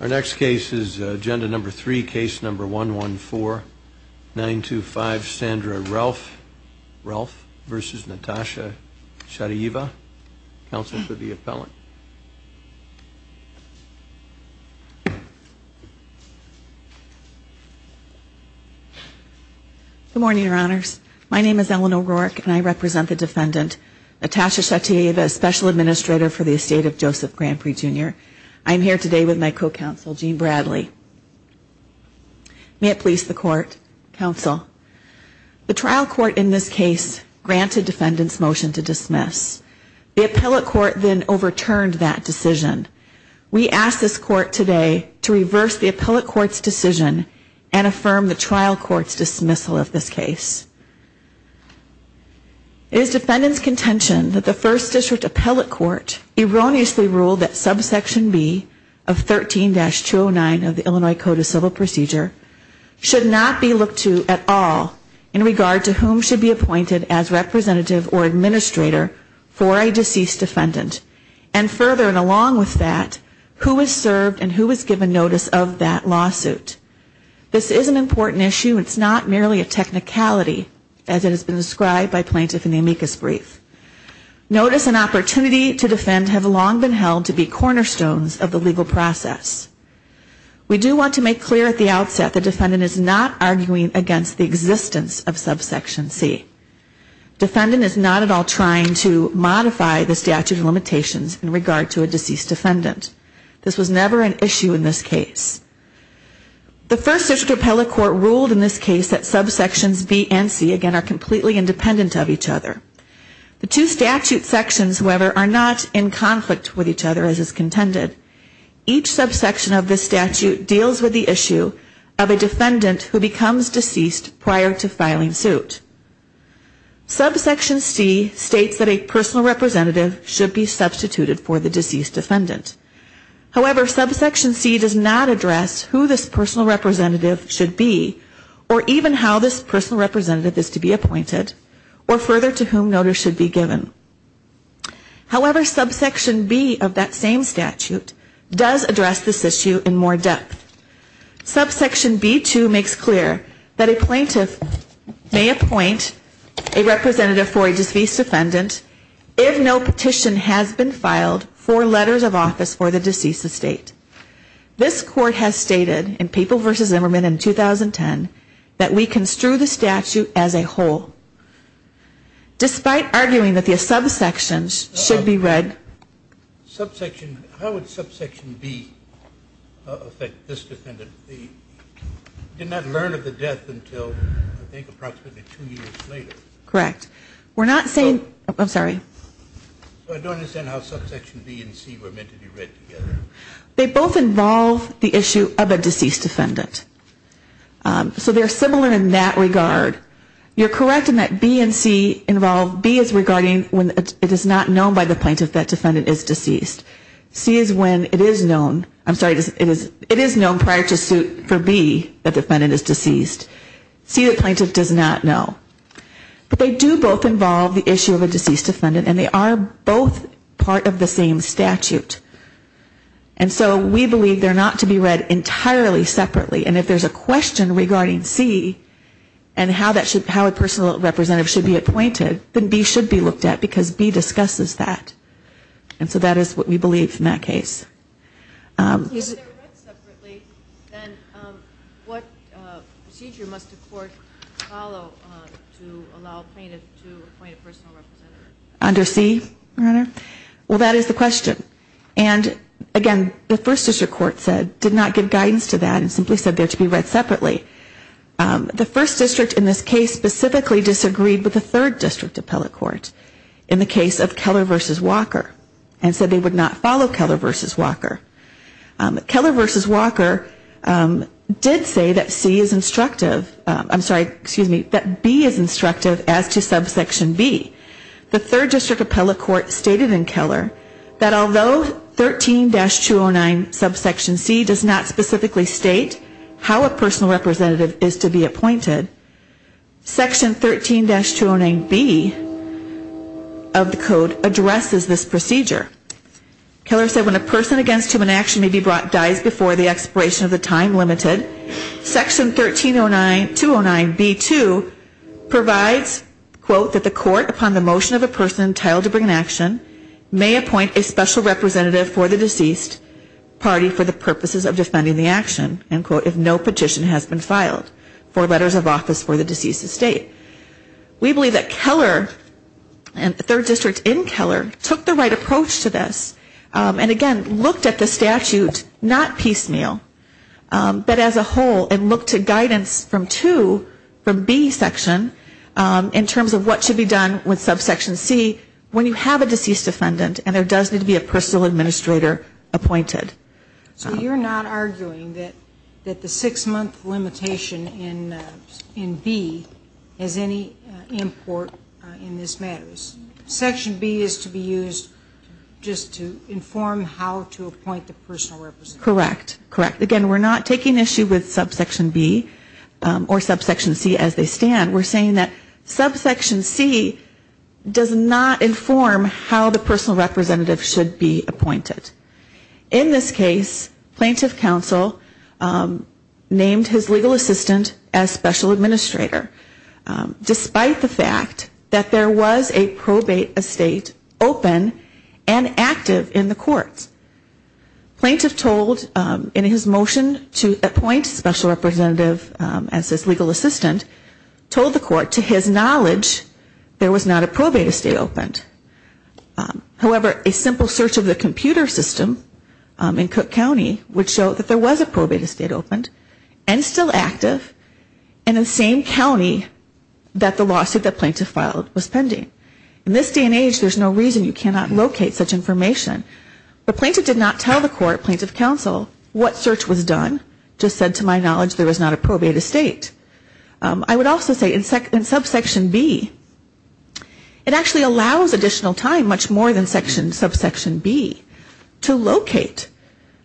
Our next case is agenda number three, case number 114925, Sandra Relf v. Natasha Shatayeva, counsel for the appellant. Good morning, your honors. My name is Eleanor Rourke, and I represent the defendant, Natasha Shatayeva, as special administrator for the estate of Joseph Granpreet Jr. I am here today with my co-counsel, Gene Bradley. May it please the court, counsel. The trial court in this case granted defendant's motion to dismiss. The appellate court then overturned that decision. We ask this court today to reverse the appellate court's decision and affirm the trial court's dismissal of this case. It is defendant's contention that the first district appellate court erroneously ruled that subsection B of 13-209 of the Illinois Code of Civil Procedure should not be looked to at all in regard to whom should be appointed as representative or administrator for a deceased defendant. And further, and along with that, who is served and who is given notice of that lawsuit. This is an important issue. It's not merely a technicality as it has been described by plaintiff in the amicus brief. Notice and opportunity to defend have long been held to be cornerstones of the legal process. We do want to make clear at the outset the defendant is not arguing against the existence of subsection C. Defendant is not at all trying to modify the statute of limitations in regard to a deceased defendant. This was never an issue in this case. The first district appellate court ruled in this case that subsections B and C again are completely independent of each other. The two statute sections, however, are not in conflict with each other as is contended. Each subsection of this statute deals with the issue of a defendant who becomes deceased prior to filing suit. Subsection C states that a personal representative should be substituted for the deceased defendant. However, subsection C does not address who this personal representative should be or even how this personal representative is to be appointed or further to whom notice should be given. However, subsection B of that same statute does address this issue in more depth. Subsection B2 makes clear that a plaintiff may appoint a representative for a deceased defendant if no petition has been filed for letters of office for the deceased estate. This court has stated in Papel v. Zimmerman in 2010 that we construe the statute as a whole. Despite arguing that the subsections should be read Subsection, how would subsection B affect this defendant? He did not learn of the death until I think approximately two years later. Correct. We're not saying, I'm sorry. I don't understand how subsection B and C were meant to be read together. They both involve the issue of a deceased defendant. So they're similar in that regard. You're correct in that B and C involve, B is regarding when it is not known by the plaintiff that defendant is deceased. C is when it is known, I'm sorry, it is known prior to suit for B that defendant is deceased. C the plaintiff does not know. But they do both involve the issue of a deceased defendant and they are both part of the same statute. And so we believe they're not to be read entirely separately. And if there's a question regarding C and how a personal representative should be appointed, then B should be looked at because B discusses that. And so that is what we believe in that case. If they're read separately, then what procedure must a court follow to allow a plaintiff to appoint a personal representative? Under C, Your Honor? Well, that is the question. And again, the First District Court said, did not give guidance to that and simply said they're to be read separately. The First District in this case specifically disagreed with the Third District Appellate Court in the case of Keller v. Walker and said they would not follow Keller v. Walker. Keller v. Walker did say that C is instructive, I'm sorry, excuse me, that B is instructive as to subsection B. The Third District Appellate Court stated in Keller that although 13-209 subsection C does not specifically state how a personal representative is to be appointed, Section 13-209B of the code addresses this procedure. Keller said when a person against whom an action may be brought dies before the expiration of the time limited, Section 13-209B2 provides, quote, that the court upon the motion of a person entitled to bring an action may appoint a special representative for the deceased party for the purposes of defending the action, end quote, if no petition has been filed for letters of office for the deceased estate. We believe that Keller and the Third District in Keller took the right approach to this and again, looked at the statute not piecemeal, but as a whole and looked at guidance from two from B section in terms of what should be done with subsection C when you have a deceased defendant and there does need to be a personal administrator appointed. So you're not arguing that the six-month limitation in B has any import in this matter? Section B is to be used just to inform how to appoint the personal representative? Correct, correct. Again, we're not taking issue with subsection B or subsection C as they stand. We're saying that subsection C does not inform how the personal representative should be appointed. In this case, plaintiff counsel named his legal assistant as special administrator, despite the fact that there was a probate estate open and active in the courts. Plaintiff told in his motion to appoint special representative as his legal assistant, told the court to his knowledge there was not a probate estate opened. However, a simple search of the computer system in Cook County would show that there was a probate estate opened and still active in the same county that the lawsuit that plaintiff filed was pending. In this day and age, there's no reason you cannot locate such information, but plaintiff did not tell the court, plaintiff counsel, what search was done, just said to my knowledge there was not a probate estate. I would also say in subsection B, it actually allows additional time, much more than subsection B, to locate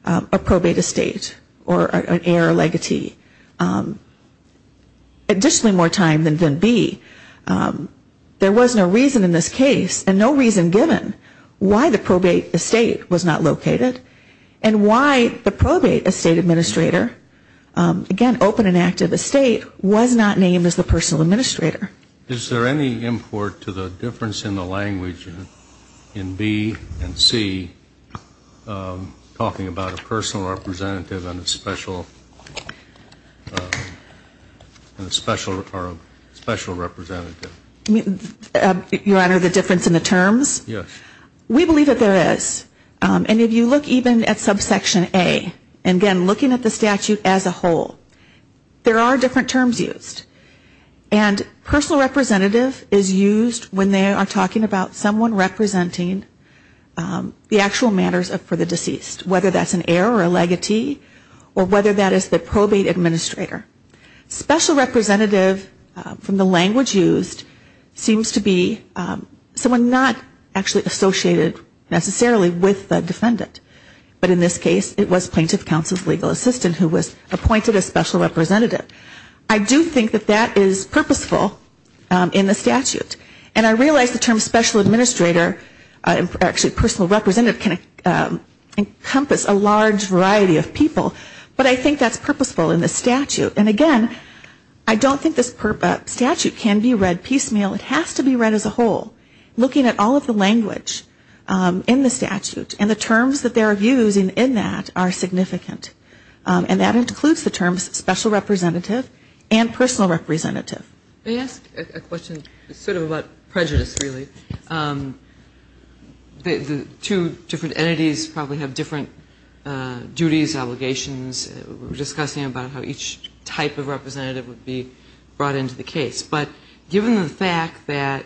a probate estate or an heir legatee, additionally more time than B. There was no reason in this case and no reason given why the probate estate was not located and why the probate estate administrator, again, open and active estate, was not named as the personal administrator. Is there any import to the difference in the language in B and C, talking about a personal representative and a special representative? Your Honor, the difference in the terms? Yes. We believe that there is. And if you look even at subsection A, and again, looking at the statute as a whole, there are different terms used. And personal representative is used when they are talking about someone representing the actual matters for the deceased, whether that's an heir or a legatee or whether that is the probate administrator. Special representative, from the language used, seems to be someone not actually associated necessarily with the defendant. But in this case, it was plaintiff counsel's legal assistant who was appointed a special representative. I do think that that is purposeful in the statute. And I realize the term special administrator, actually personal representative, can encompass a large variety of people, but I think that's purposeful in the statute. And again, I don't think this statute can be read piecemeal. It has to be read as a whole, looking at all of the language in the statute. And the terms that they are using in that are significant. And that includes the terms special representative and personal representative. May I ask a question sort of about prejudice, really? Two different entities probably have different duties, obligations. We were talking about the fact that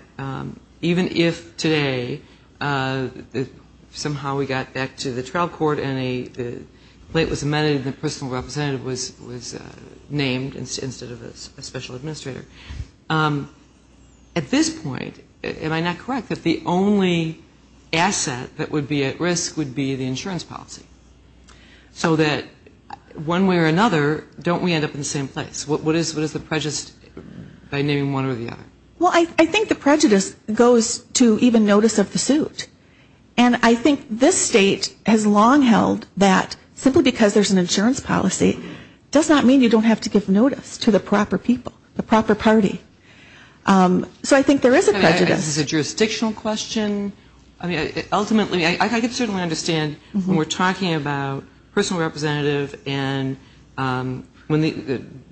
even if today somehow we got back to the trial court and a complaint was amended and the personal representative was named instead of a special administrator, at this point, am I not correct, that the only asset that would be at risk would be the insurance policy? So that one way or another, don't we end up in the same place? What is the prejudice by naming one or the other? Well, I think the prejudice goes to even notice of the suit. And I think this state has long held that simply because there's an insurance policy does not mean you don't have to give notice to the proper people, the proper party. So I think there is a prejudice. We're talking about personal representative and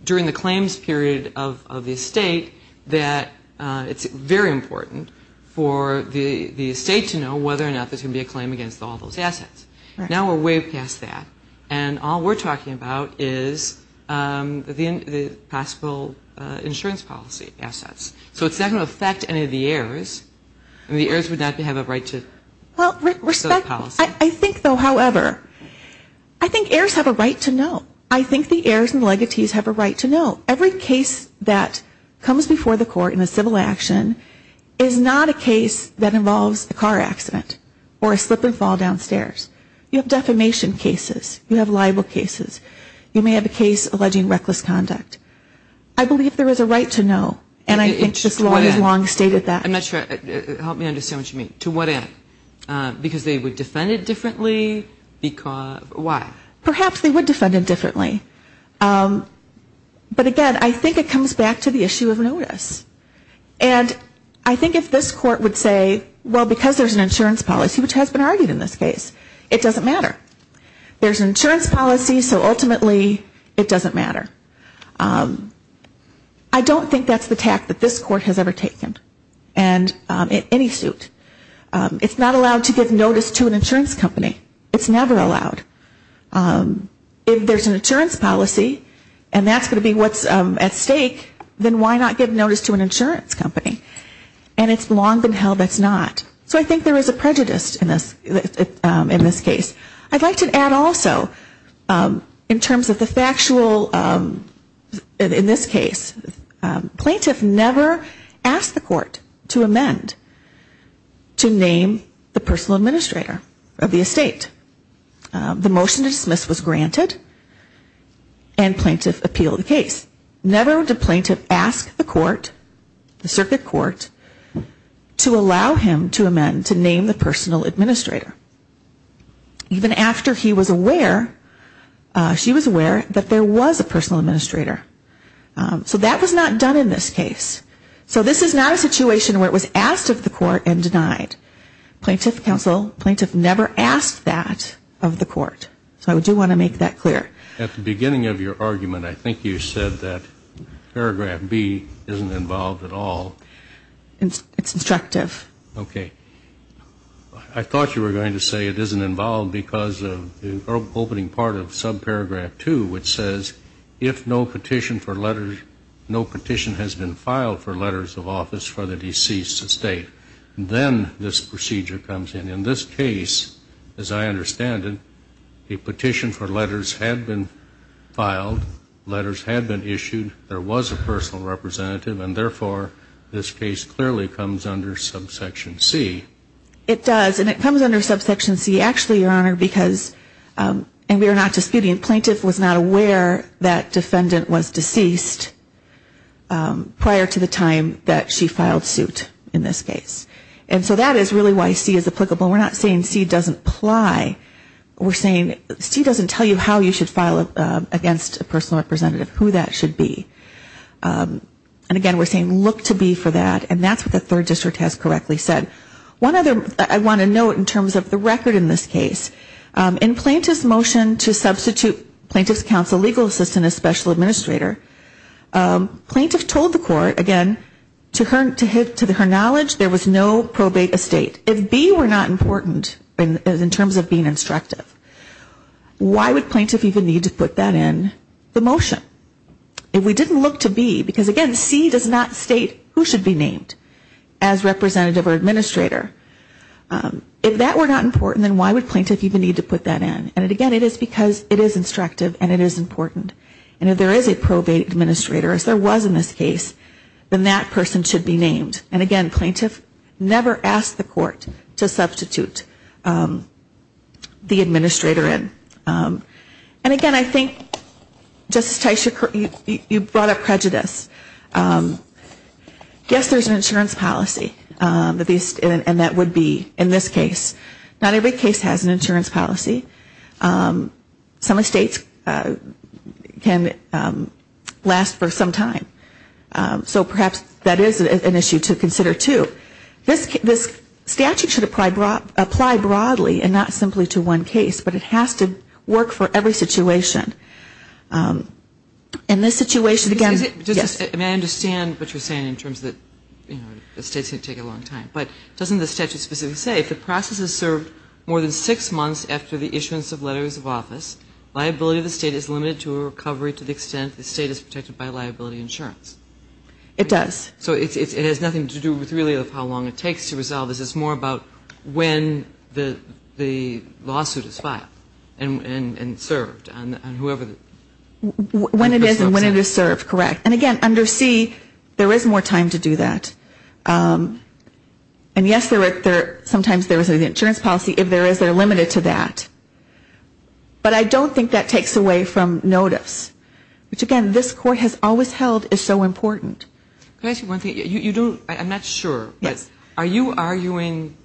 during the claims period of the state that it's very important for the state to know whether or not there's going to be a claim against all those assets. Now we're way past that. And all we're talking about is the possible insurance policy assets. So it's not going to affect any of the heirs. And the heirs would not have a right to the policy. I think, though, however, I think heirs have a right to know. I think the heirs and legatees have a right to know. Every case that comes before the court in a civil action is not a case that involves a car accident or a slip and fall downstairs. You have defamation cases. You have libel cases. You may have a case alleging reckless conduct. I believe there is a right to know. And I think this law has long stated that. I'm not sure. Help me understand what you mean. To what end? Because they would defend it differently? Why? Perhaps they would defend it differently. But again, I think it comes back to the issue of notice. And I think if this court would say, well, because there's an insurance policy, which has been argued in this case, it doesn't matter. There's an insurance policy, so ultimately it doesn't matter. I don't think that's the tact that this court has ever taken. And I don't think that's the tact that this court has ever taken. It's not allowed to give notice to an insurance company. It's never allowed. If there's an insurance policy and that's going to be what's at stake, then why not give notice to an insurance company? And it's long been held that's not. So I think there is a prejudice in this case. I'd like to add also in terms of the factual, in this case, plaintiff never asked the plaintiff to amend to name the personal administrator of the estate. The motion to dismiss was granted and plaintiff appealed the case. Never did plaintiff ask the court, the circuit court, to allow him to amend to name the personal administrator. Even after he was aware, she was aware that there was a personal administrator. So that was not done in this case. So this is not a situation where it was asked of the court and denied. Plaintiff counsel, plaintiff never asked that of the court. So I do want to make that clear. At the beginning of your argument, I think you said that paragraph B isn't involved at all. It's instructive. Okay. I thought you were going to say it isn't involved because of the opening part of subparagraph 2, which says, if no petition has been filed for letters of office for the deceased estate, then this procedure comes in. In this case, as I understand it, a petition for letters had been filed, letters had been issued, there was a personal representative, and therefore, this case clearly comes under subsection C. It does. And it comes under subsection C, actually, Your Honor, because, and we are not disputing, the plaintiff was not aware that prior to the time that she filed suit in this case. And so that is really why C is applicable. We are not saying C doesn't apply. We are saying C doesn't tell you how you should file against a personal representative, who that should be. And again, we are saying look to B for that, and that's what the third district has correctly said. One other, I want to note in terms of the record in this case, in plaintiff's motion to substitute plaintiff's counsel legal assistant as special administrator, plaintiff told the court, again, to her knowledge there was no probate estate. If B were not important in terms of being instructive, why would plaintiff even need to put that in the motion? If we didn't look to B, because again, C does not state who should be named as representative or administrator. If that were not important, then why would plaintiff even need to put that in? And again, it is because it is instructive and it is important. And if there is a probate administrator, as there was in this case, then that person should be named. And again, plaintiff never asked the court to substitute the administrator in. And again, I think, Justice Teicher, you brought up prejudice. Yes, there is an insurance policy, and that would be in this case. Not every case has an insurance policy. Some estates can last for some time. So perhaps that is an issue to consider, too. This statute should apply broadly and not simply to one case, but it has to work for every situation. In this situation, again, yes. And I understand what you are saying in terms that estates can take a long time. But doesn't the statute specifically say if the process is served more than six months after the issuance of letters of office, liability of the state is limited to a recovery to the extent the state is protected by liability insurance? It does. So it has nothing to do with really how long it takes to resolve. This is more about when the lawsuit is filed and served on whoever the person is. When it is and when it is served, correct. And again, under C, there is more time to do that. And yes, sometimes there is an insurance policy. If there is, they are limited to that. But I don't think that takes away from notice, which again, this Court has always held is so important. Can I ask you one thing? I'm not sure, but are you arguing,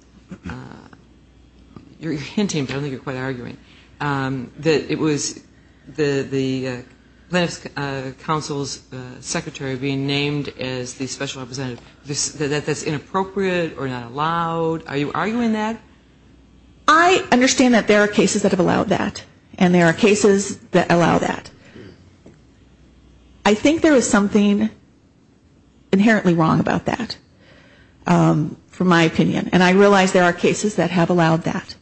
you're hinting, but I don't think you're quite arguing, that it was the counsel's secretary being named as the special representative, that that's inappropriate or not allowed? Are you arguing that? I understand that there are cases that have allowed that. And there are cases that allow that. I think there is something inherently wrong about that, from my opinion. And I realize there are cases that have allowed that.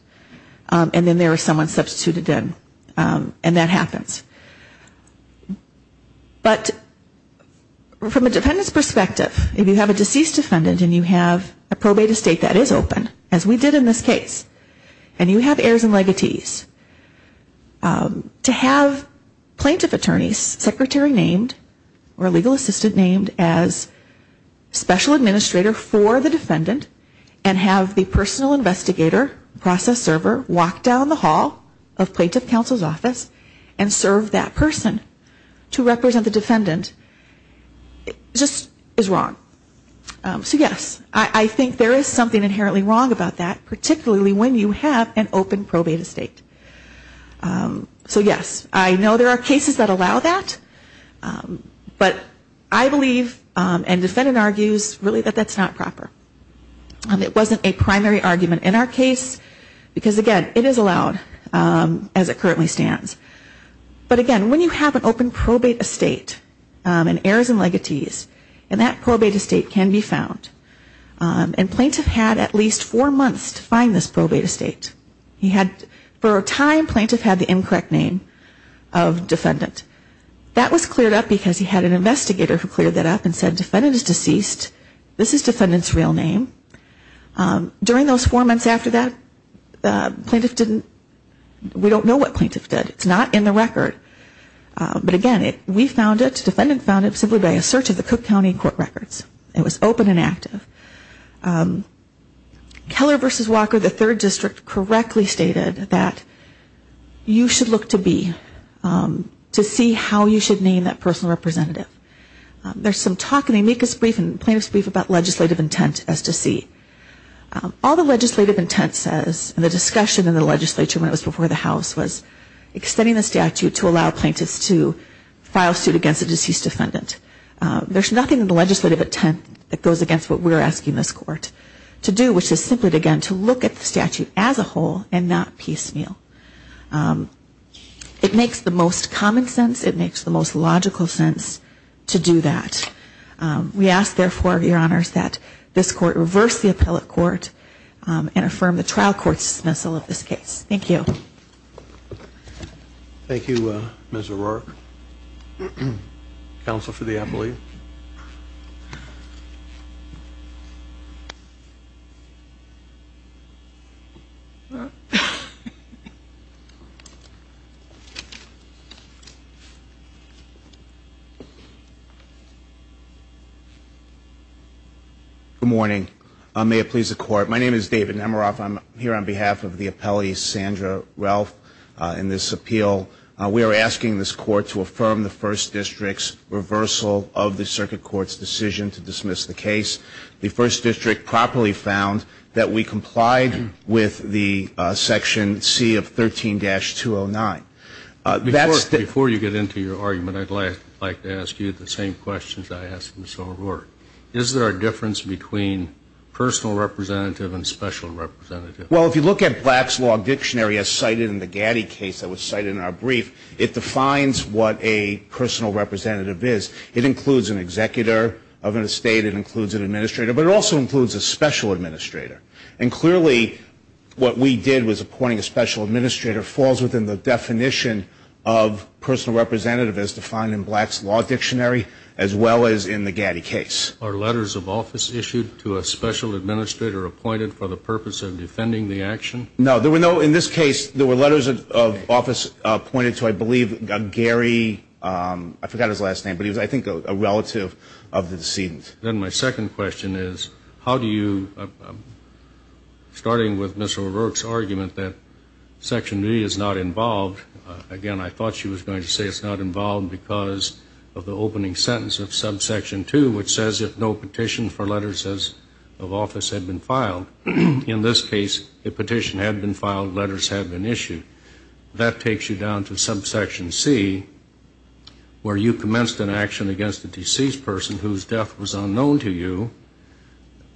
And then there is someone substituted in. And that happens. But from a defendant's perspective, if you have a deceased defendant and you have a probate estate that is open, as we did in this case, and you have heirs and legatees, to have plaintiff attorneys, secretary named or legal assistant named as special administrator for the plaintiff counsel's office and serve that person to represent the defendant, just is wrong. So yes, I think there is something inherently wrong about that, particularly when you have an open probate estate. So yes, I know there are cases that allow that. But I believe and defendant argues really that that's not proper. And it wasn't a primary argument in our case, because again, it is allowed as it currently stands. But again, when you have an open probate estate and heirs and legatees, and that probate estate can be found, and plaintiff had at least four months to find this probate estate. For a time, plaintiff had the incorrect name of defendant. That was cleared up because he had an investigator who cleared that up and said defendant is deceased, this is defendant's real name. During those four months after that, plaintiff didn't, we don't know what plaintiff did. It's not in the record. But again, we found it, defendant found it simply by a search of the Cook County court records. It was open and active. Keller versus Walker, the third district, correctly stated that you should look to be, to see how you should name that personal representative. There's some talk in the amicus brief and plaintiff's brief about legislative intent as to see. All the legislative intent says, and the discussion in the legislature when it was before the House, was extending the statute to allow plaintiffs to file suit against a deceased defendant. There's nothing in the legislative intent that goes against what we're asking this court to do, which is simply again, to look at the statute as a whole and not piecemeal. It makes the most common sense, it makes the most logical sense, and it makes the most reasonable sense to do that. We ask therefore, your honors, that this court reverse the appellate court and affirm the trial court dismissal of this case. Thank you. Thank you, Ms. O'Rourke. Counsel for the appellate. Good morning. May it please the court. My name is David Nemiroff. I'm here on behalf of the appellate, Sandra Ralph, in this appeal. We are asking this court to affirm the first district's reversal of the circuit court's decision to dismiss the case. The first district properly found that we complied with the section C of 13-209. Before you get into your argument, I'd like to ask you the same questions I asked Ms. O'Rourke. Is there a difference between personal representative and special representative? Well, if you look at Black's Law Dictionary, as cited in the Gaddy case that was cited in our brief, it defines what a personal representative is. It includes an executor of an estate, it includes an administrator, but it also includes a special administrator. And clearly, what we did was appointing a special administrator falls within the definition of personal representative, as defined in Black's Law Dictionary, as well as in the Gaddy case. Are letters of office issued to a special administrator appointed for the purpose of defending the action? No. In this case, there were letters of office appointed to, I believe, Gary, I forgot his last name, but he was, I think, a relative of the deceased. Then my second question is, how do you, starting with Ms. O'Rourke's argument that Section B is not involved, again, I thought she was going to say it's not involved because of the opening sentence of Subsection 2, which says if no petition for letters of office had been filed. In this case, the petition had been filed, letters had been issued. That takes you down to Subsection C, where you say, if the cause of death was unknown to you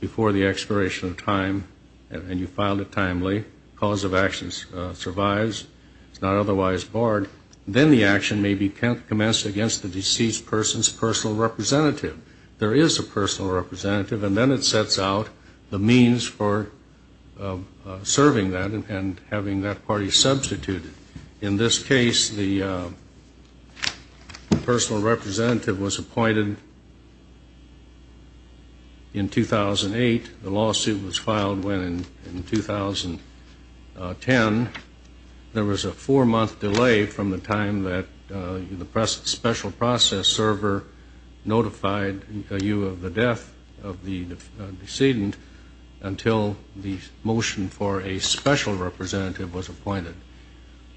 before the expiration of time, and you filed it timely, the cause of action survives, it's not otherwise barred, then the action may be commenced against the deceased person's personal representative. There is a personal representative, and then it sets out the means for serving that and having that party substituted. In this case, the personal representative was appointed for the purpose of defending the action. In 2008, the lawsuit was filed. When in 2010, there was a four-month delay from the time that the special process server notified you of the death of the decedent until the motion for a special representative was appointed.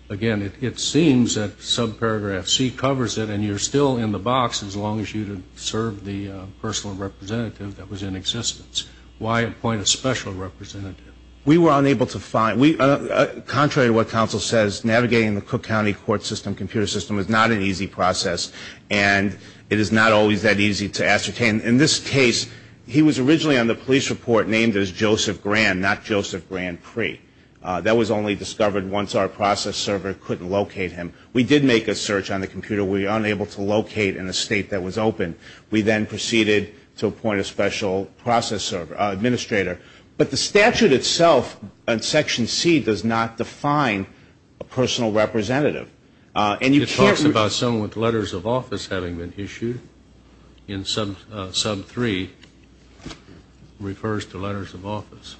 Again, it seems that Subparagraph C covers it, and you're still in the box as long as you serve the case. Why appoint a personal representative that was in existence? Why appoint a special representative? We were unable to find, contrary to what counsel says, navigating the Cook County court system, computer system, is not an easy process, and it is not always that easy to ascertain. In this case, he was originally on the police report named as Joseph Grand, not Joseph Grand Pre. That was only discovered once our process server couldn't locate him. We did make a search on the computer. We were unable to locate in a way that would allow us to ascertain that he was a person of interest, and we then proceeded to appoint a special process server, an administrator. But the statute itself, in Section C, does not define a personal representative, and you can't It talks about someone with letters of office having been issued. In Sub 3, it refers to letters of office.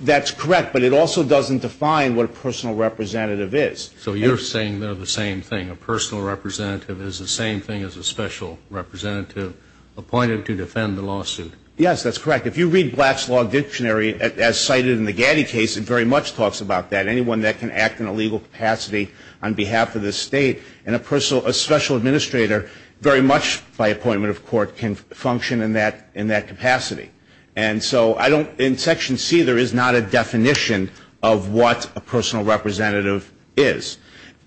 That's correct, but it also doesn't define what a personal representative is. So you're saying they're the same thing. A personal representative is the same thing as a special representative appointed to defend the lawsuit. Yes, that's correct. If you read Black's Law Dictionary, as cited in the Gaddy case, it very much talks about that. Anyone that can act in a legal capacity on behalf of the state, and a special administrator, very much by appointment of court, can function in that capacity. And so in Section C, there is not a definition of what a personal representative is.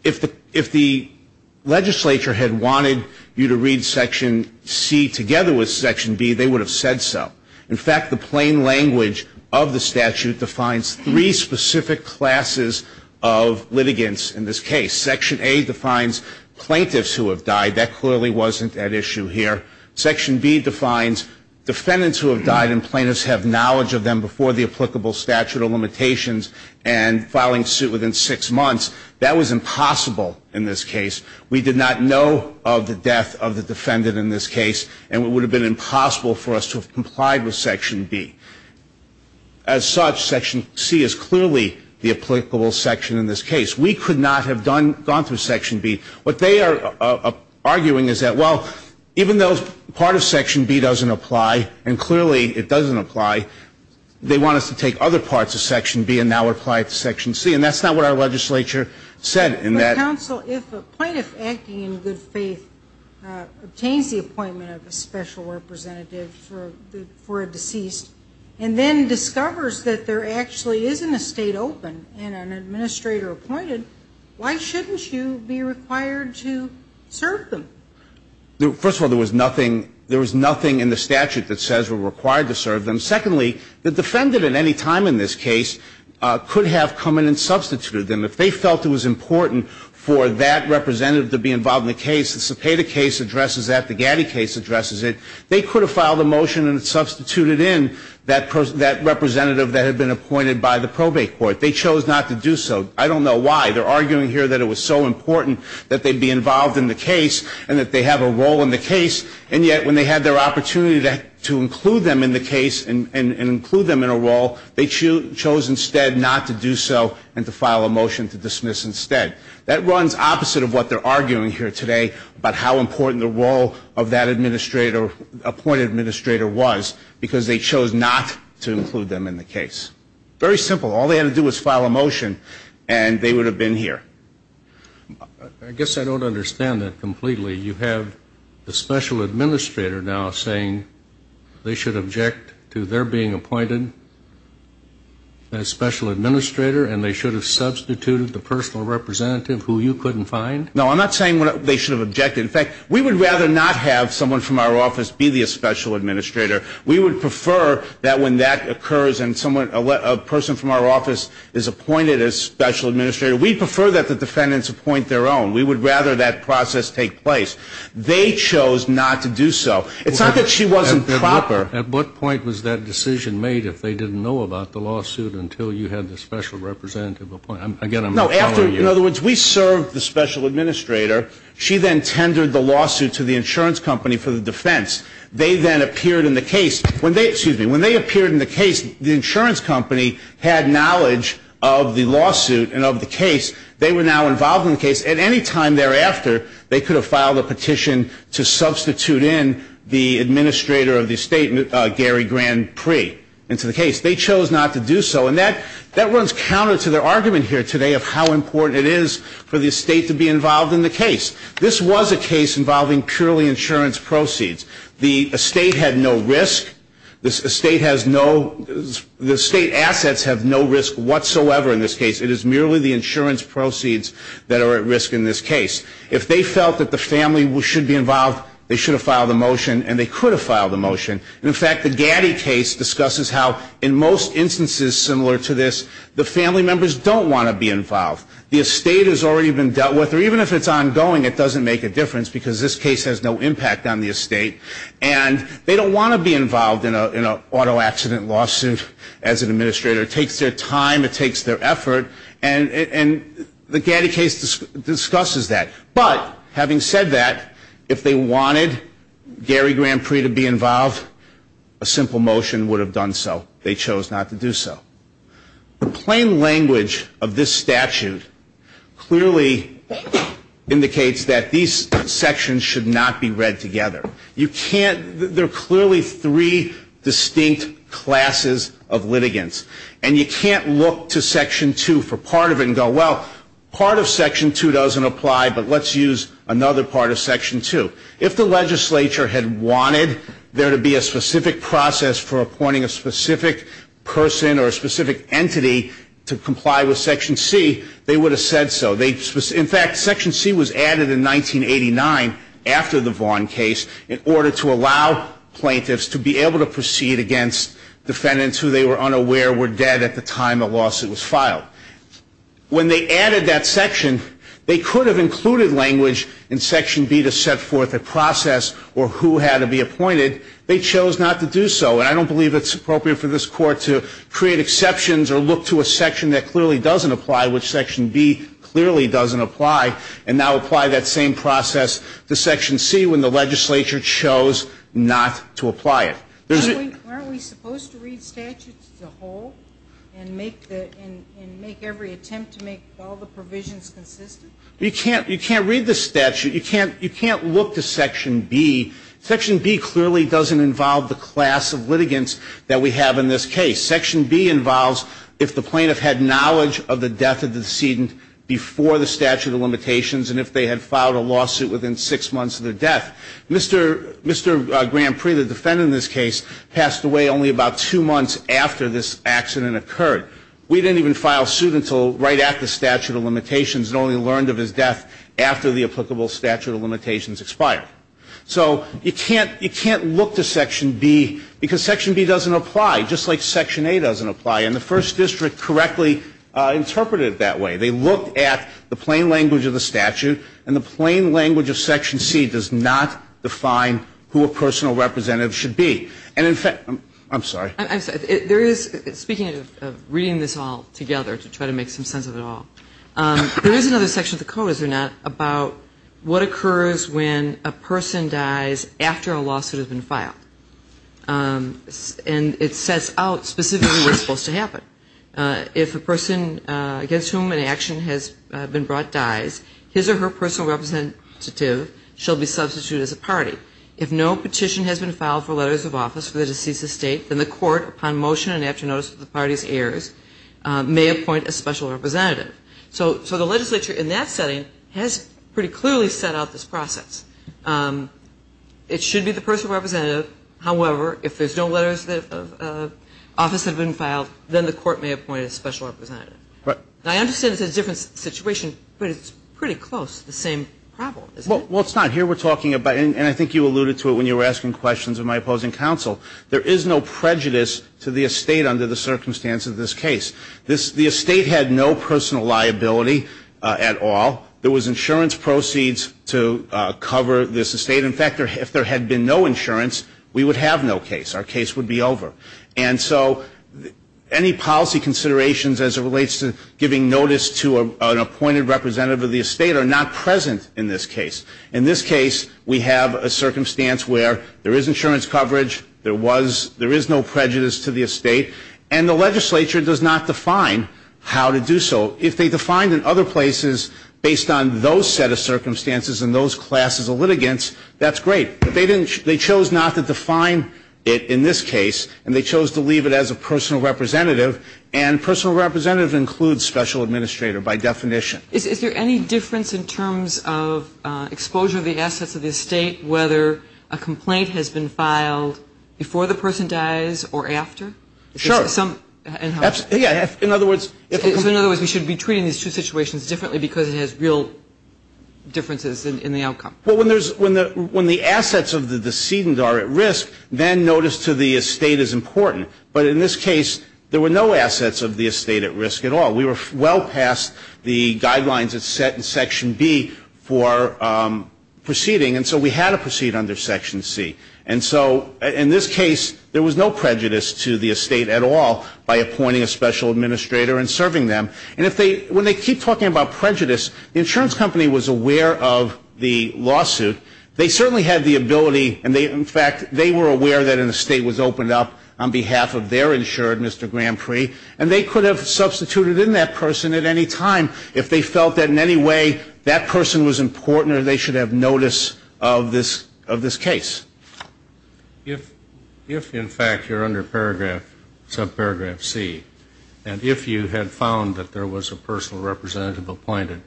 If the legislature had wanted you to read Section C together with Section B, they would have said so. In fact, the plain language of the statute defines three specific classes of litigants in this case. Section A defines plaintiffs who have died. That clearly wasn't at issue here. Section B defines defendants who have died, and plaintiffs have knowledge of them before the applicable statute or limitations, and filing a complaint suit within six months. That was impossible in this case. We did not know of the death of the defendant in this case, and it would have been impossible for us to have complied with Section B. As such, Section C is clearly the applicable section in this case. We could not have gone through Section B. What they are arguing is that, well, even though part of Section B doesn't apply, and clearly it doesn't apply, they want us to take other parts of Section B and now apply it to Section C. And that's not what our legislature said in that. Counsel, if a plaintiff acting in good faith obtains the appointment of a special representative for a deceased and then discovers that there actually isn't a state open and an administrator appointed, why shouldn't you be required to serve them? First of all, there was nothing in the statute that says we're required to serve them. Secondly, the defendant at any time in this case could have come in and substituted them. If they felt it was important for that representative to be involved in the case, the Cepeda case addresses that, the Gatti case addresses it, they could have filed a motion and substituted in that representative that had been appointed by the probate court. They chose not to do so. I don't know why. They're arguing here that it was so important that they be involved in the case and that they have a role in the case, and yet when they had their opportunity to include them in the case and include them in a role, they chose instead not to do so and to file a motion to dismiss instead. That runs opposite of what they're arguing here today about how important the role of that administrator, appointed administrator was, because they chose not to include them in the case. Very simple. All they had to do was file a motion and they would have been here. I guess I don't understand that completely. You have the special administrator now saying they should object to their being appointed as special administrator and they should have substituted the personal representative who you couldn't find? No, I'm not saying they should have objected. In fact, we would rather not have someone from our office be the special administrator. We would prefer that when that occurs and a person from our office is appointed as special administrator, we'd prefer that the defendants appoint their own. We would rather that process take place. They chose not to do so. It's not that she wasn't proper. At what point was that decision made if they didn't know about the lawsuit until you had the special representative appointed? In other words, we served the special administrator. She then tendered the lawsuit to the insurance company for the defense. They then appeared in the case. When they appeared in the case, the insurance company had knowledge of the lawsuit and of the case. They were now involved in the case. At any time thereafter, they could have filed a petition to substitute in the administrator of the estate, Gary Grand Prix, into the case. They chose not to do so. And that runs counter to their argument here today of how important it is for the estate to be involved in the case. This was a case involving purely insurance proceeds. The estate had no risk. The estate has no, the estate assets have no risk whatsoever in this case. It is merely the insurance proceeds that are at risk in this case. If they felt that the family should be involved, they should have filed a motion, and they could have filed a motion. In fact, the Gaddy case discusses how in most instances similar to this, the family members don't want to be involved. The estate has already been dealt with, or even if it's ongoing, it doesn't make a difference because this case has no impact on the estate. And they don't want to be involved in an auto accident lawsuit as an administrator. It takes their time. It takes their effort. And the Gaddy case discusses that. But having said that, if they wanted Gary Grand Prix to be involved, a simple motion would have done so. They chose not to do so. The plain language of this statute clearly indicates that these sections should not be read together. You can't, there are clearly three distinct classes of litigants. And you can't look to Section 2 for part of it and go, well, part of Section 2 doesn't apply, but let's use another part of Section 2. If the legislature had wanted there to be a specific process for appointing a specific person or a specific entity to comply with Section C, they would have said so. In fact, Section C was added in 1989 after the Vaughn case in order to allow plaintiffs to be able to proceed against defendants who they were unaware were dead at the time a lawsuit was filed. When they added that section, they could have included language in Section B to set forth a process or who had to be appointed. They chose not to do so. And I don't believe it's appropriate for this Court to create exceptions or look to a section that clearly doesn't apply, which Section B clearly doesn't apply, and now apply that same process to Section C when the legislature chose not to apply it. Aren't we supposed to read statutes as a whole and make every attempt to make all the provisions consistent? You can't read the statute. You can't look to Section B. Section B clearly doesn't involve the class of litigants that we have in this case. Section B involves if the plaintiff had knowledge of the death of the decedent before the statute of limitations and if they had filed a lawsuit within six months of their death. Mr. Grand Prix, the defendant in this case, passed away only about two months after this accident occurred. We didn't even file suit until right after the statute of limitations and only learned of his death after the applicable statute of limitations expired. So you can't look to Section B because Section B doesn't apply, just like Section A doesn't apply. And the First District correctly interpreted it that way. They looked at the plain language of the statute and the plain language of Section C does not define who a personal representative should be. And in fact, I'm sorry. Speaking of reading this all together to try to make some sense of it all, there is another section of the code, is there not, about what occurs when a person dies after a lawsuit has been filed. And it sets out specifically what's supposed to happen. If a person dies after a lawsuit has been filed and a section has been brought dies, his or her personal representative shall be substituted as a party. If no petition has been filed for letters of office for the deceased's estate, then the court, upon motion and after notice of the party's heirs, may appoint a special representative. So the legislature in that setting has pretty clearly set out this process. It should be the personal representative, however, if there's no letters of office have been filed, then the court may appoint a special representative. And it's a different situation, but it's pretty close, the same problem. Well, it's not. Here we're talking about, and I think you alluded to it when you were asking questions of my opposing counsel, there is no prejudice to the estate under the circumstance of this case. The estate had no personal liability at all. There was insurance proceeds to cover this estate. But in fact, if there had been no insurance, we would have no case, our case would be over. And so any policy considerations as it relates to giving notice to an appointed representative of the estate are not present in this case. In this case, we have a circumstance where there is insurance coverage, there is no prejudice to the estate, and the legislature does not define how to do so. So if they define in other places based on those set of circumstances and those classes of litigants, that's great. But they chose not to define it in this case, and they chose to leave it as a personal representative, and personal representative includes special administrator by definition. Is there any difference in terms of exposure of the assets of the estate, whether a complaint has been filed before the person dies or after? Sure. So in other words, we should be treating these two situations differently because it has real differences in the outcome. Well, when the assets of the decedent are at risk, then notice to the estate is important. But in this case, there were no assets of the estate at risk at all. We were well past the guidelines that's set in Section B for proceeding, and so we had to proceed under Section C. And so in this case, there was no prejudice to the estate at all by appointing a special administrator and serving them. And if they, when they keep talking about prejudice, the insurance company was aware of the lawsuit. They certainly had the ability, and in fact, they were aware that an estate was opened up on behalf of their insured, Mr. Grand Prix, and they could have substituted in that person at any time if they felt that in any way that person was important or they should have notice of this case. If, in fact, you're under paragraph, subparagraph C, and if you had found that there was a personal representative appointed,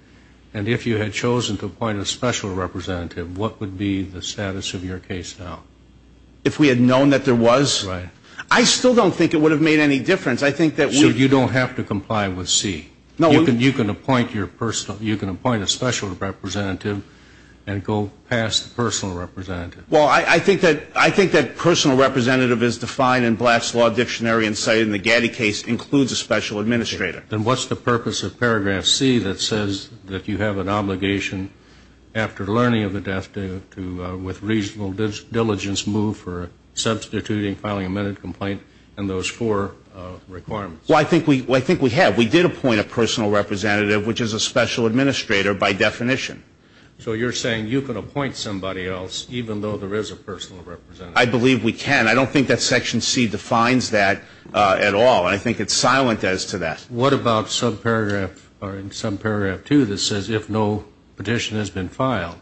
and if you had chosen to appoint a special representative, what would be the status of your case now? If we had known that there was? Right. I still don't think it would have made any difference. I think that we... You have to comply with C. You can appoint a special representative and go past the personal representative. Well, I think that personal representative is defined in Blatt's Law Dictionary and cited in the Gatti case includes a special administrator. Then what's the purpose of paragraph C that says that you have an obligation after learning of the death with reasonable diligence move for substituting, filing a minute complaint, and those four requirements? Well, I think we have. We did appoint a personal representative, which is a special administrator by definition. So you're saying you can appoint somebody else even though there is a personal representative? I believe we can. I don't think that section C defines that at all, and I think it's silent as to that. What about subparagraph, or in subparagraph 2 that says if no petition has been filed?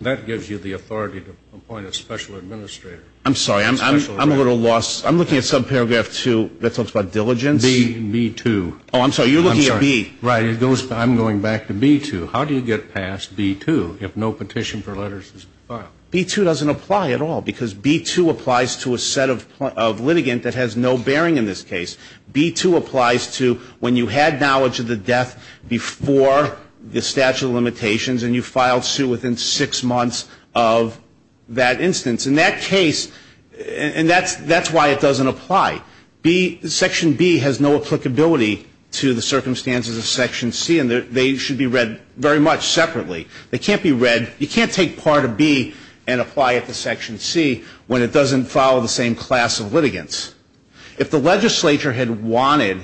That gives you the authority to appoint a special administrator. I'm sorry. I'm a little lost. I'm looking at subparagraph 2 that talks about diligence. B2. Oh, I'm sorry. You're looking at B. Right. I'm going back to B2. How do you get past B2 if no petition for letters has been filed? B2 doesn't apply at all because B2 applies to a set of litigant that has no bearing in this case. B2 applies to when you had knowledge of the death before the statute of limitations and you filed suit within six months of that instance. In that case, and that's why it doesn't apply. Section B has no applicability to the circumstances of section C, and they should be read very much separately. They can't be read, you can't take part of B and apply it to section C when it doesn't follow the same class of litigants. If the legislature had wanted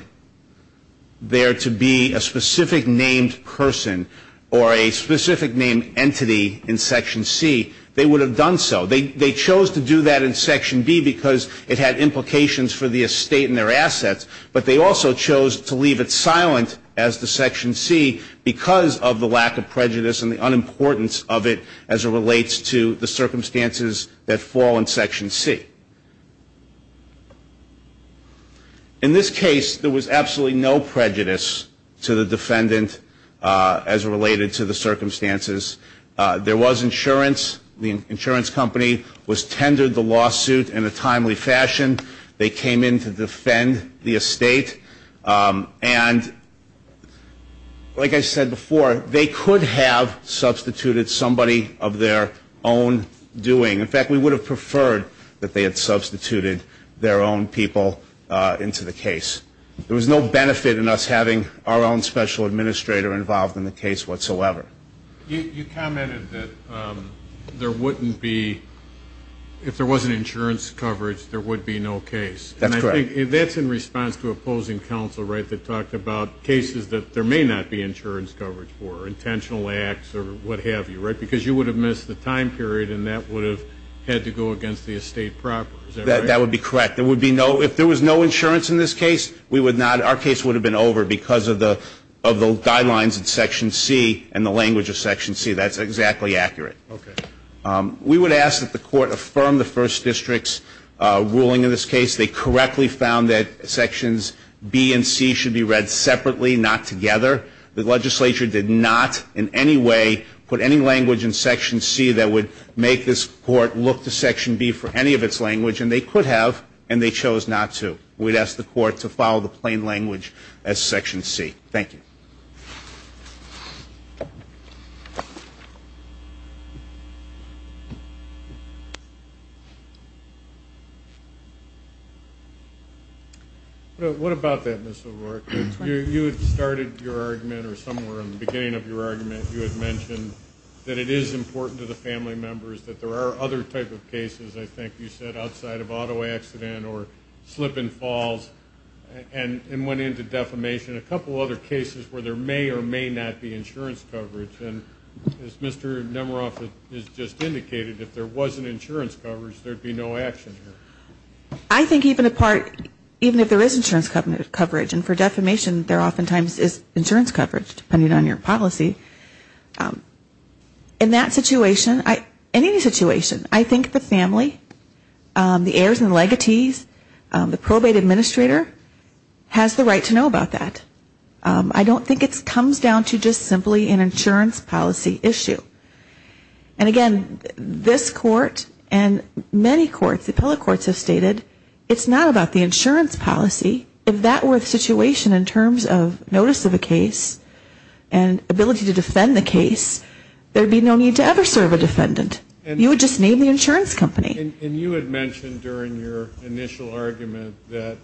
there to be a specific named person or a specific named entity in section C, they would have done so. They chose to do that in section B because it had implications for the estate and their assets, but they also chose to leave it silent as to section C because of the lack of prejudice and the unimportance of it as it relates to the circumstances that fall in section C. In this case, there was absolutely no prejudice to the defendant as related to the circumstances. There was insurance, the insurance company was tendered the lawsuit in a timely fashion. They came in to defend the estate, and like I said before, they could have substituted somebody of their own doing. In fact, we would have preferred that they had substituted their own people into the case. There was no benefit in us having our own special administrator involved in the case whatsoever. You commented that there wouldn't be, if there wasn't insurance coverage, there would be no case. That's correct. And I think that's in response to opposing counsel, right, that talked about cases that there may not be insurance coverage for, intentional acts or what have you, right, because you would have missed the time period and that would have had to go against the estate proper. That would be correct. If there was no insurance in this case, we would not, our case would have been over because of the guidelines in section C and the language of section C, that's exactly accurate. We would ask that the court affirm the first district's ruling in this case. They correctly found that sections B and C should be read separately, not together. The legislature did not in any way put any language in section C that would make this court look to section B for any of its language. And they could have, and they chose not to. We'd ask the court to follow the plain language as section C. Thank you. What about that, Ms. O'Rourke? You had started your argument or somewhere in the beginning of your argument, you had mentioned that it is important to the family members, that there are other type of cases, I think you said, outside of auto accident or slip and falls, and went into defamation. A couple other cases where there may or may not be insurance coverage. And as Mr. Nemeroff has just indicated, if there wasn't insurance coverage, there would be no action here. I think even a part, even if there is insurance coverage, and for defamation there oftentimes is insurance coverage, depending on your policy. In that situation, in any situation, I think the family, the heirs and legatees, the probate administrator has the right to know about that. I don't think it comes down to just simply an insurance policy issue. And again, this court and many courts, the appellate courts have stated, it's not about the insurance policy, if that were the situation in terms of notice of a case and ability to defend the case, there would be no need to ever serve a defendant. You would just name the insurance company. And you had mentioned during your initial argument that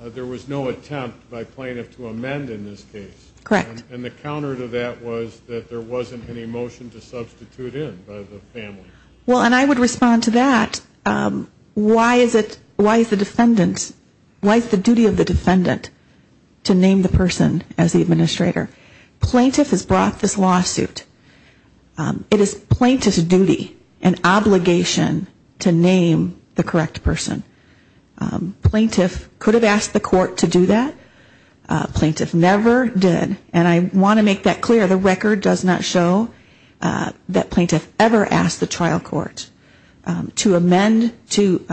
there was no attempt by plaintiff to amend in this case. Correct. And the counter to that was that there wasn't any motion to substitute in by the family. Well, and I would respond to that, why is it, why is the defendant, why is the duty of the defendant to name the person as the administrator? Plaintiff has brought this lawsuit, it is plaintiff's duty and obligation to name the correct person. Plaintiff could have asked the court to do that. Plaintiff never did. And I want to make that clear, the record does not show that plaintiff ever asked the trial court to amend, to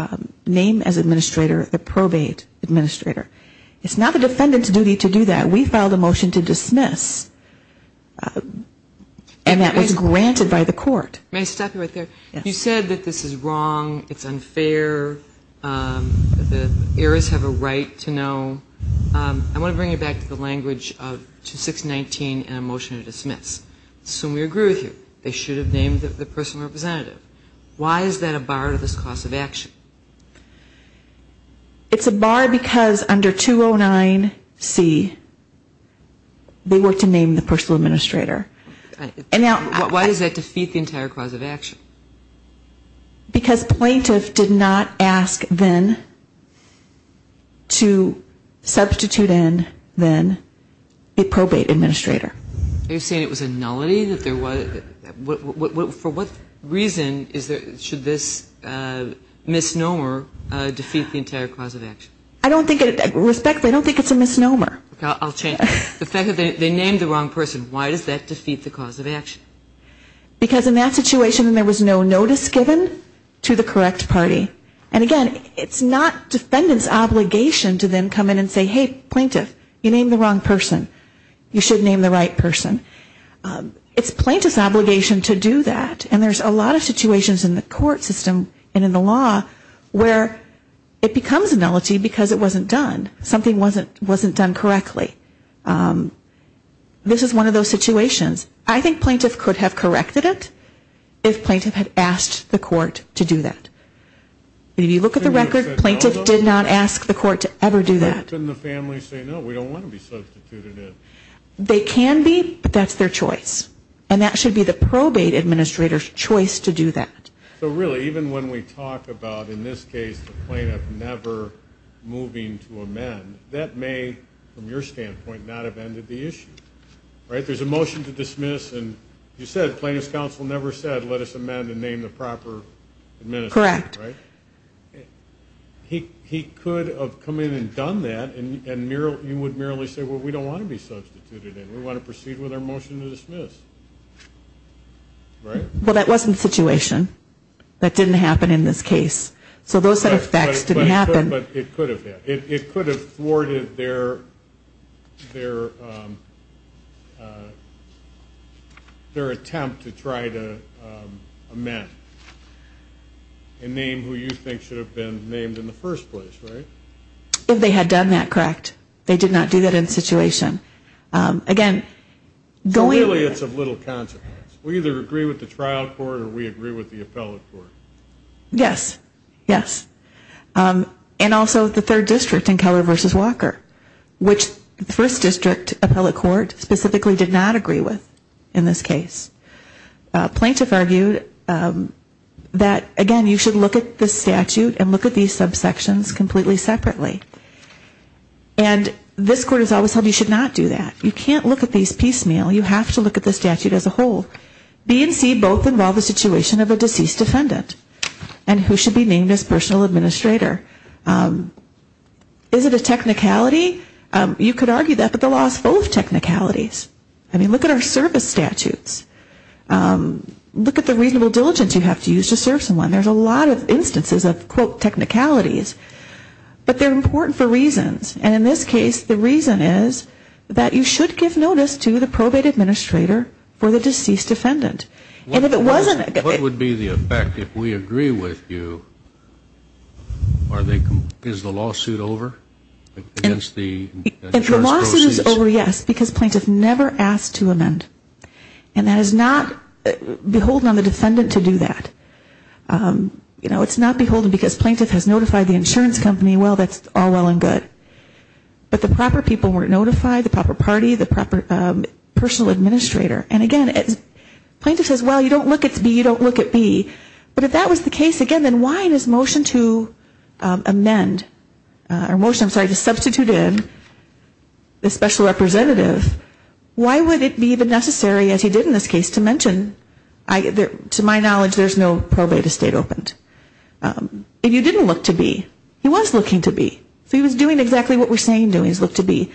name as administrator the probate administrator. It's not the defendant's duty to do that. We filed a motion to dismiss. And that was granted by the court. May I stop you right there? You said that this is wrong, it's unfair, the heirs have a right to know. I want to bring you back to the language of 2619 and a motion to dismiss. So we agree with you, they should have named the person representative. Why is that a bar to this class of action? It's a bar because under 209C, they were to name the personal administrator. Why does that defeat the entire class of action? Because plaintiff did not ask then to substitute in then a probate administrator. Are you saying it was a nullity? For what reason should this misnomer defeat the entire class of action? I don't think it's a misnomer. The fact that they named the wrong person, why does that defeat the class of action? Because in that situation there was no notice given to the correct party. And again, it's not defendant's obligation to then come in and say hey, plaintiff, you named the wrong person, you should name the right person. It's plaintiff's obligation to do that. And there's a lot of situations in the court system and in the law where it becomes a nullity because it wasn't done. Something wasn't done correctly. This is one of those situations. I think plaintiff could have corrected it if plaintiff had asked the court to do that. If you look at the record, plaintiff did not ask the court to ever do that. Couldn't the family say no, we don't want to be substituted in? They can be, but that's their choice. And that should be the probate administrator's choice to do that. So really, even when we talk about, in this case, the plaintiff never moving to amend, that may, from your standpoint, not have ended the issue. There's a motion to dismiss, and you said plaintiff's counsel never said let us amend and name the proper administrator. Correct. He could have come in and done that, and you would merely say, well, we don't want to be substituted in. We want to proceed with our motion to dismiss. Well, that wasn't the situation. That didn't happen in this case. But it could have been. It could have thwarted their attempt to try to amend and name who you think should have been named in the first place, right? If they had done that, correct. They did not do that in the situation. So really it's of little consequence. We either agree with the trial court or we agree with the appellate court. Yes, yes. And also the third district in Keller v. Walker, which the first district appellate court specifically did not agree with in this case. Plaintiff argued that, again, you should look at the statute and look at these subsections completely separately. And this court has always held you should not do that. You can't look at these piecemeal. You have to look at the statute as a whole. B and C both involve the situation of a deceased defendant and who should be named as personal administrator. Is it a technicality? You could argue that, but the law is full of technicalities. I mean, look at our service statutes. Look at the reasonable diligence you have to use to serve someone. There's a lot of instances of, quote, technicalities. But they're important for reasons. And in this case the reason is that you should give notice to the probate administrator for the deceased defendant. And if it wasn't... And that is not beholden on the defendant to do that. You know, it's not beholden because plaintiff has notified the insurance company, well, that's all well and good. But the proper people were notified, the proper party, the proper personal administrator. And again, plaintiff says, well, you don't look at B, you don't look at B. But if that was the case, again, then why in his motion to amend, or motion, I'm sorry, to substitute in the special representative, why would it be even necessary, as he did in this case, to mention, to my knowledge, there's no probate estate opened. If you didn't look to B, he was looking to B. So he was doing exactly what we're saying doing is look to B.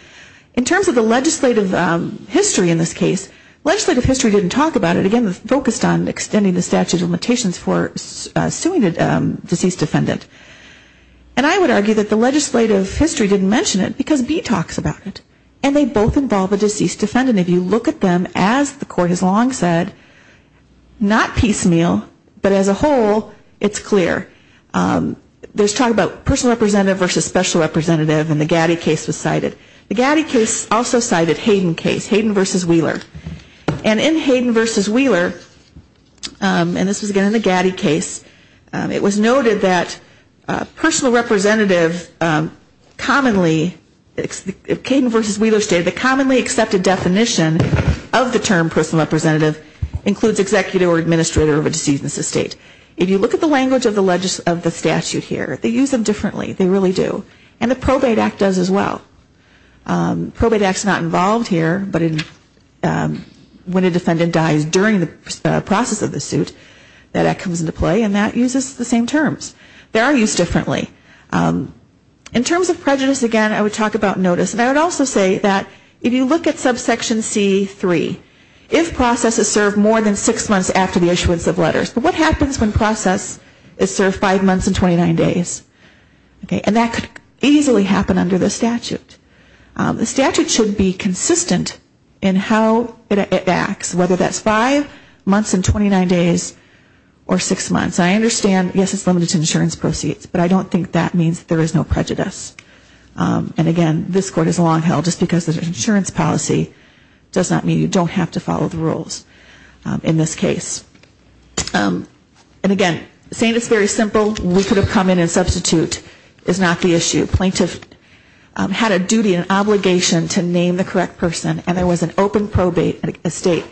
In terms of the legislative history in this case, legislative history didn't talk about it. Again, it was focused on extending the statute of limitations for suing a deceased defendant. And I would argue that the legislative history didn't mention it because B talks about it. And they both involve a deceased defendant. If you look at them, as the court has long said, not piecemeal, but as a whole, it's clear. There's talk about personal representative versus special representative in the Gatti case was cited. The Gatti case also cited Hayden case, Hayden versus Wheeler. And in Hayden versus Wheeler, and this was again in the Gatti case, it was noted that personal representative commonly, Hayden versus Wheeler stated the commonly accepted definition of the term personal representative includes executive or administrator of a deceased in this estate. If you look at the language of the statute here, they use them differently, they really do. And the probate act does as well. Probate act is not involved here, but when a defendant dies during the process of the suit, that act comes into play and that uses the same terms. They are used differently. In terms of prejudice, again, I would talk about notice. And I would also say that if you look at subsection C3, if process is served more than six months after the issuance of letters, but what happens when process is served five months and 29 days? And that could easily happen under the statute. The statute should be consistent in how it acts, whether that's five months and 29 days or six months. I understand, yes, it's limited to insurance proceeds, but I don't think that means there is no prejudice. And again, this court is long held just because the insurance policy does not mean you don't have to follow the rules in this case. And again, saying it's very simple, we could have come in and substitute is not the issue. Plaintiff had a duty and obligation to name the correct person and there was an open probate estate.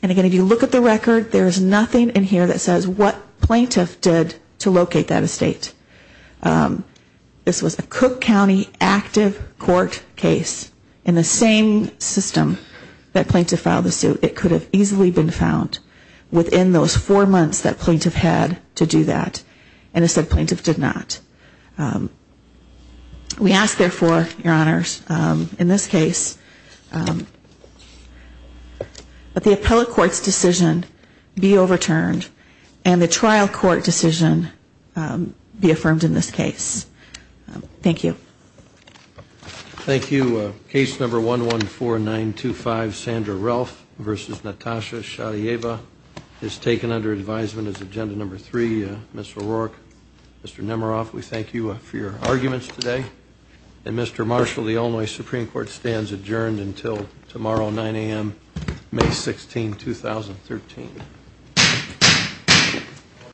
And again, if you look at the record, there is nothing in here that says what plaintiff did to locate that estate. This was a Cook County active court case in the same system that plaintiff filed the suit. It could have easily been found within those four months that plaintiff had to do that. And it said plaintiff did not. We ask, therefore, your honors, in this case, that the appellate court's decision be overturned and the trial court decision be affirmed in this case. Thank you. Thank you. Case number 114925, Sandra Ralph versus Natasha Sharieva is taken under advisement as agenda number three. Mr. O'Rourke, Mr. Nemeroff, we thank you for your arguments today. And Mr. Marshall, the Illinois Supreme Court stands adjourned until tomorrow, 9 a.m., May 16, 2013.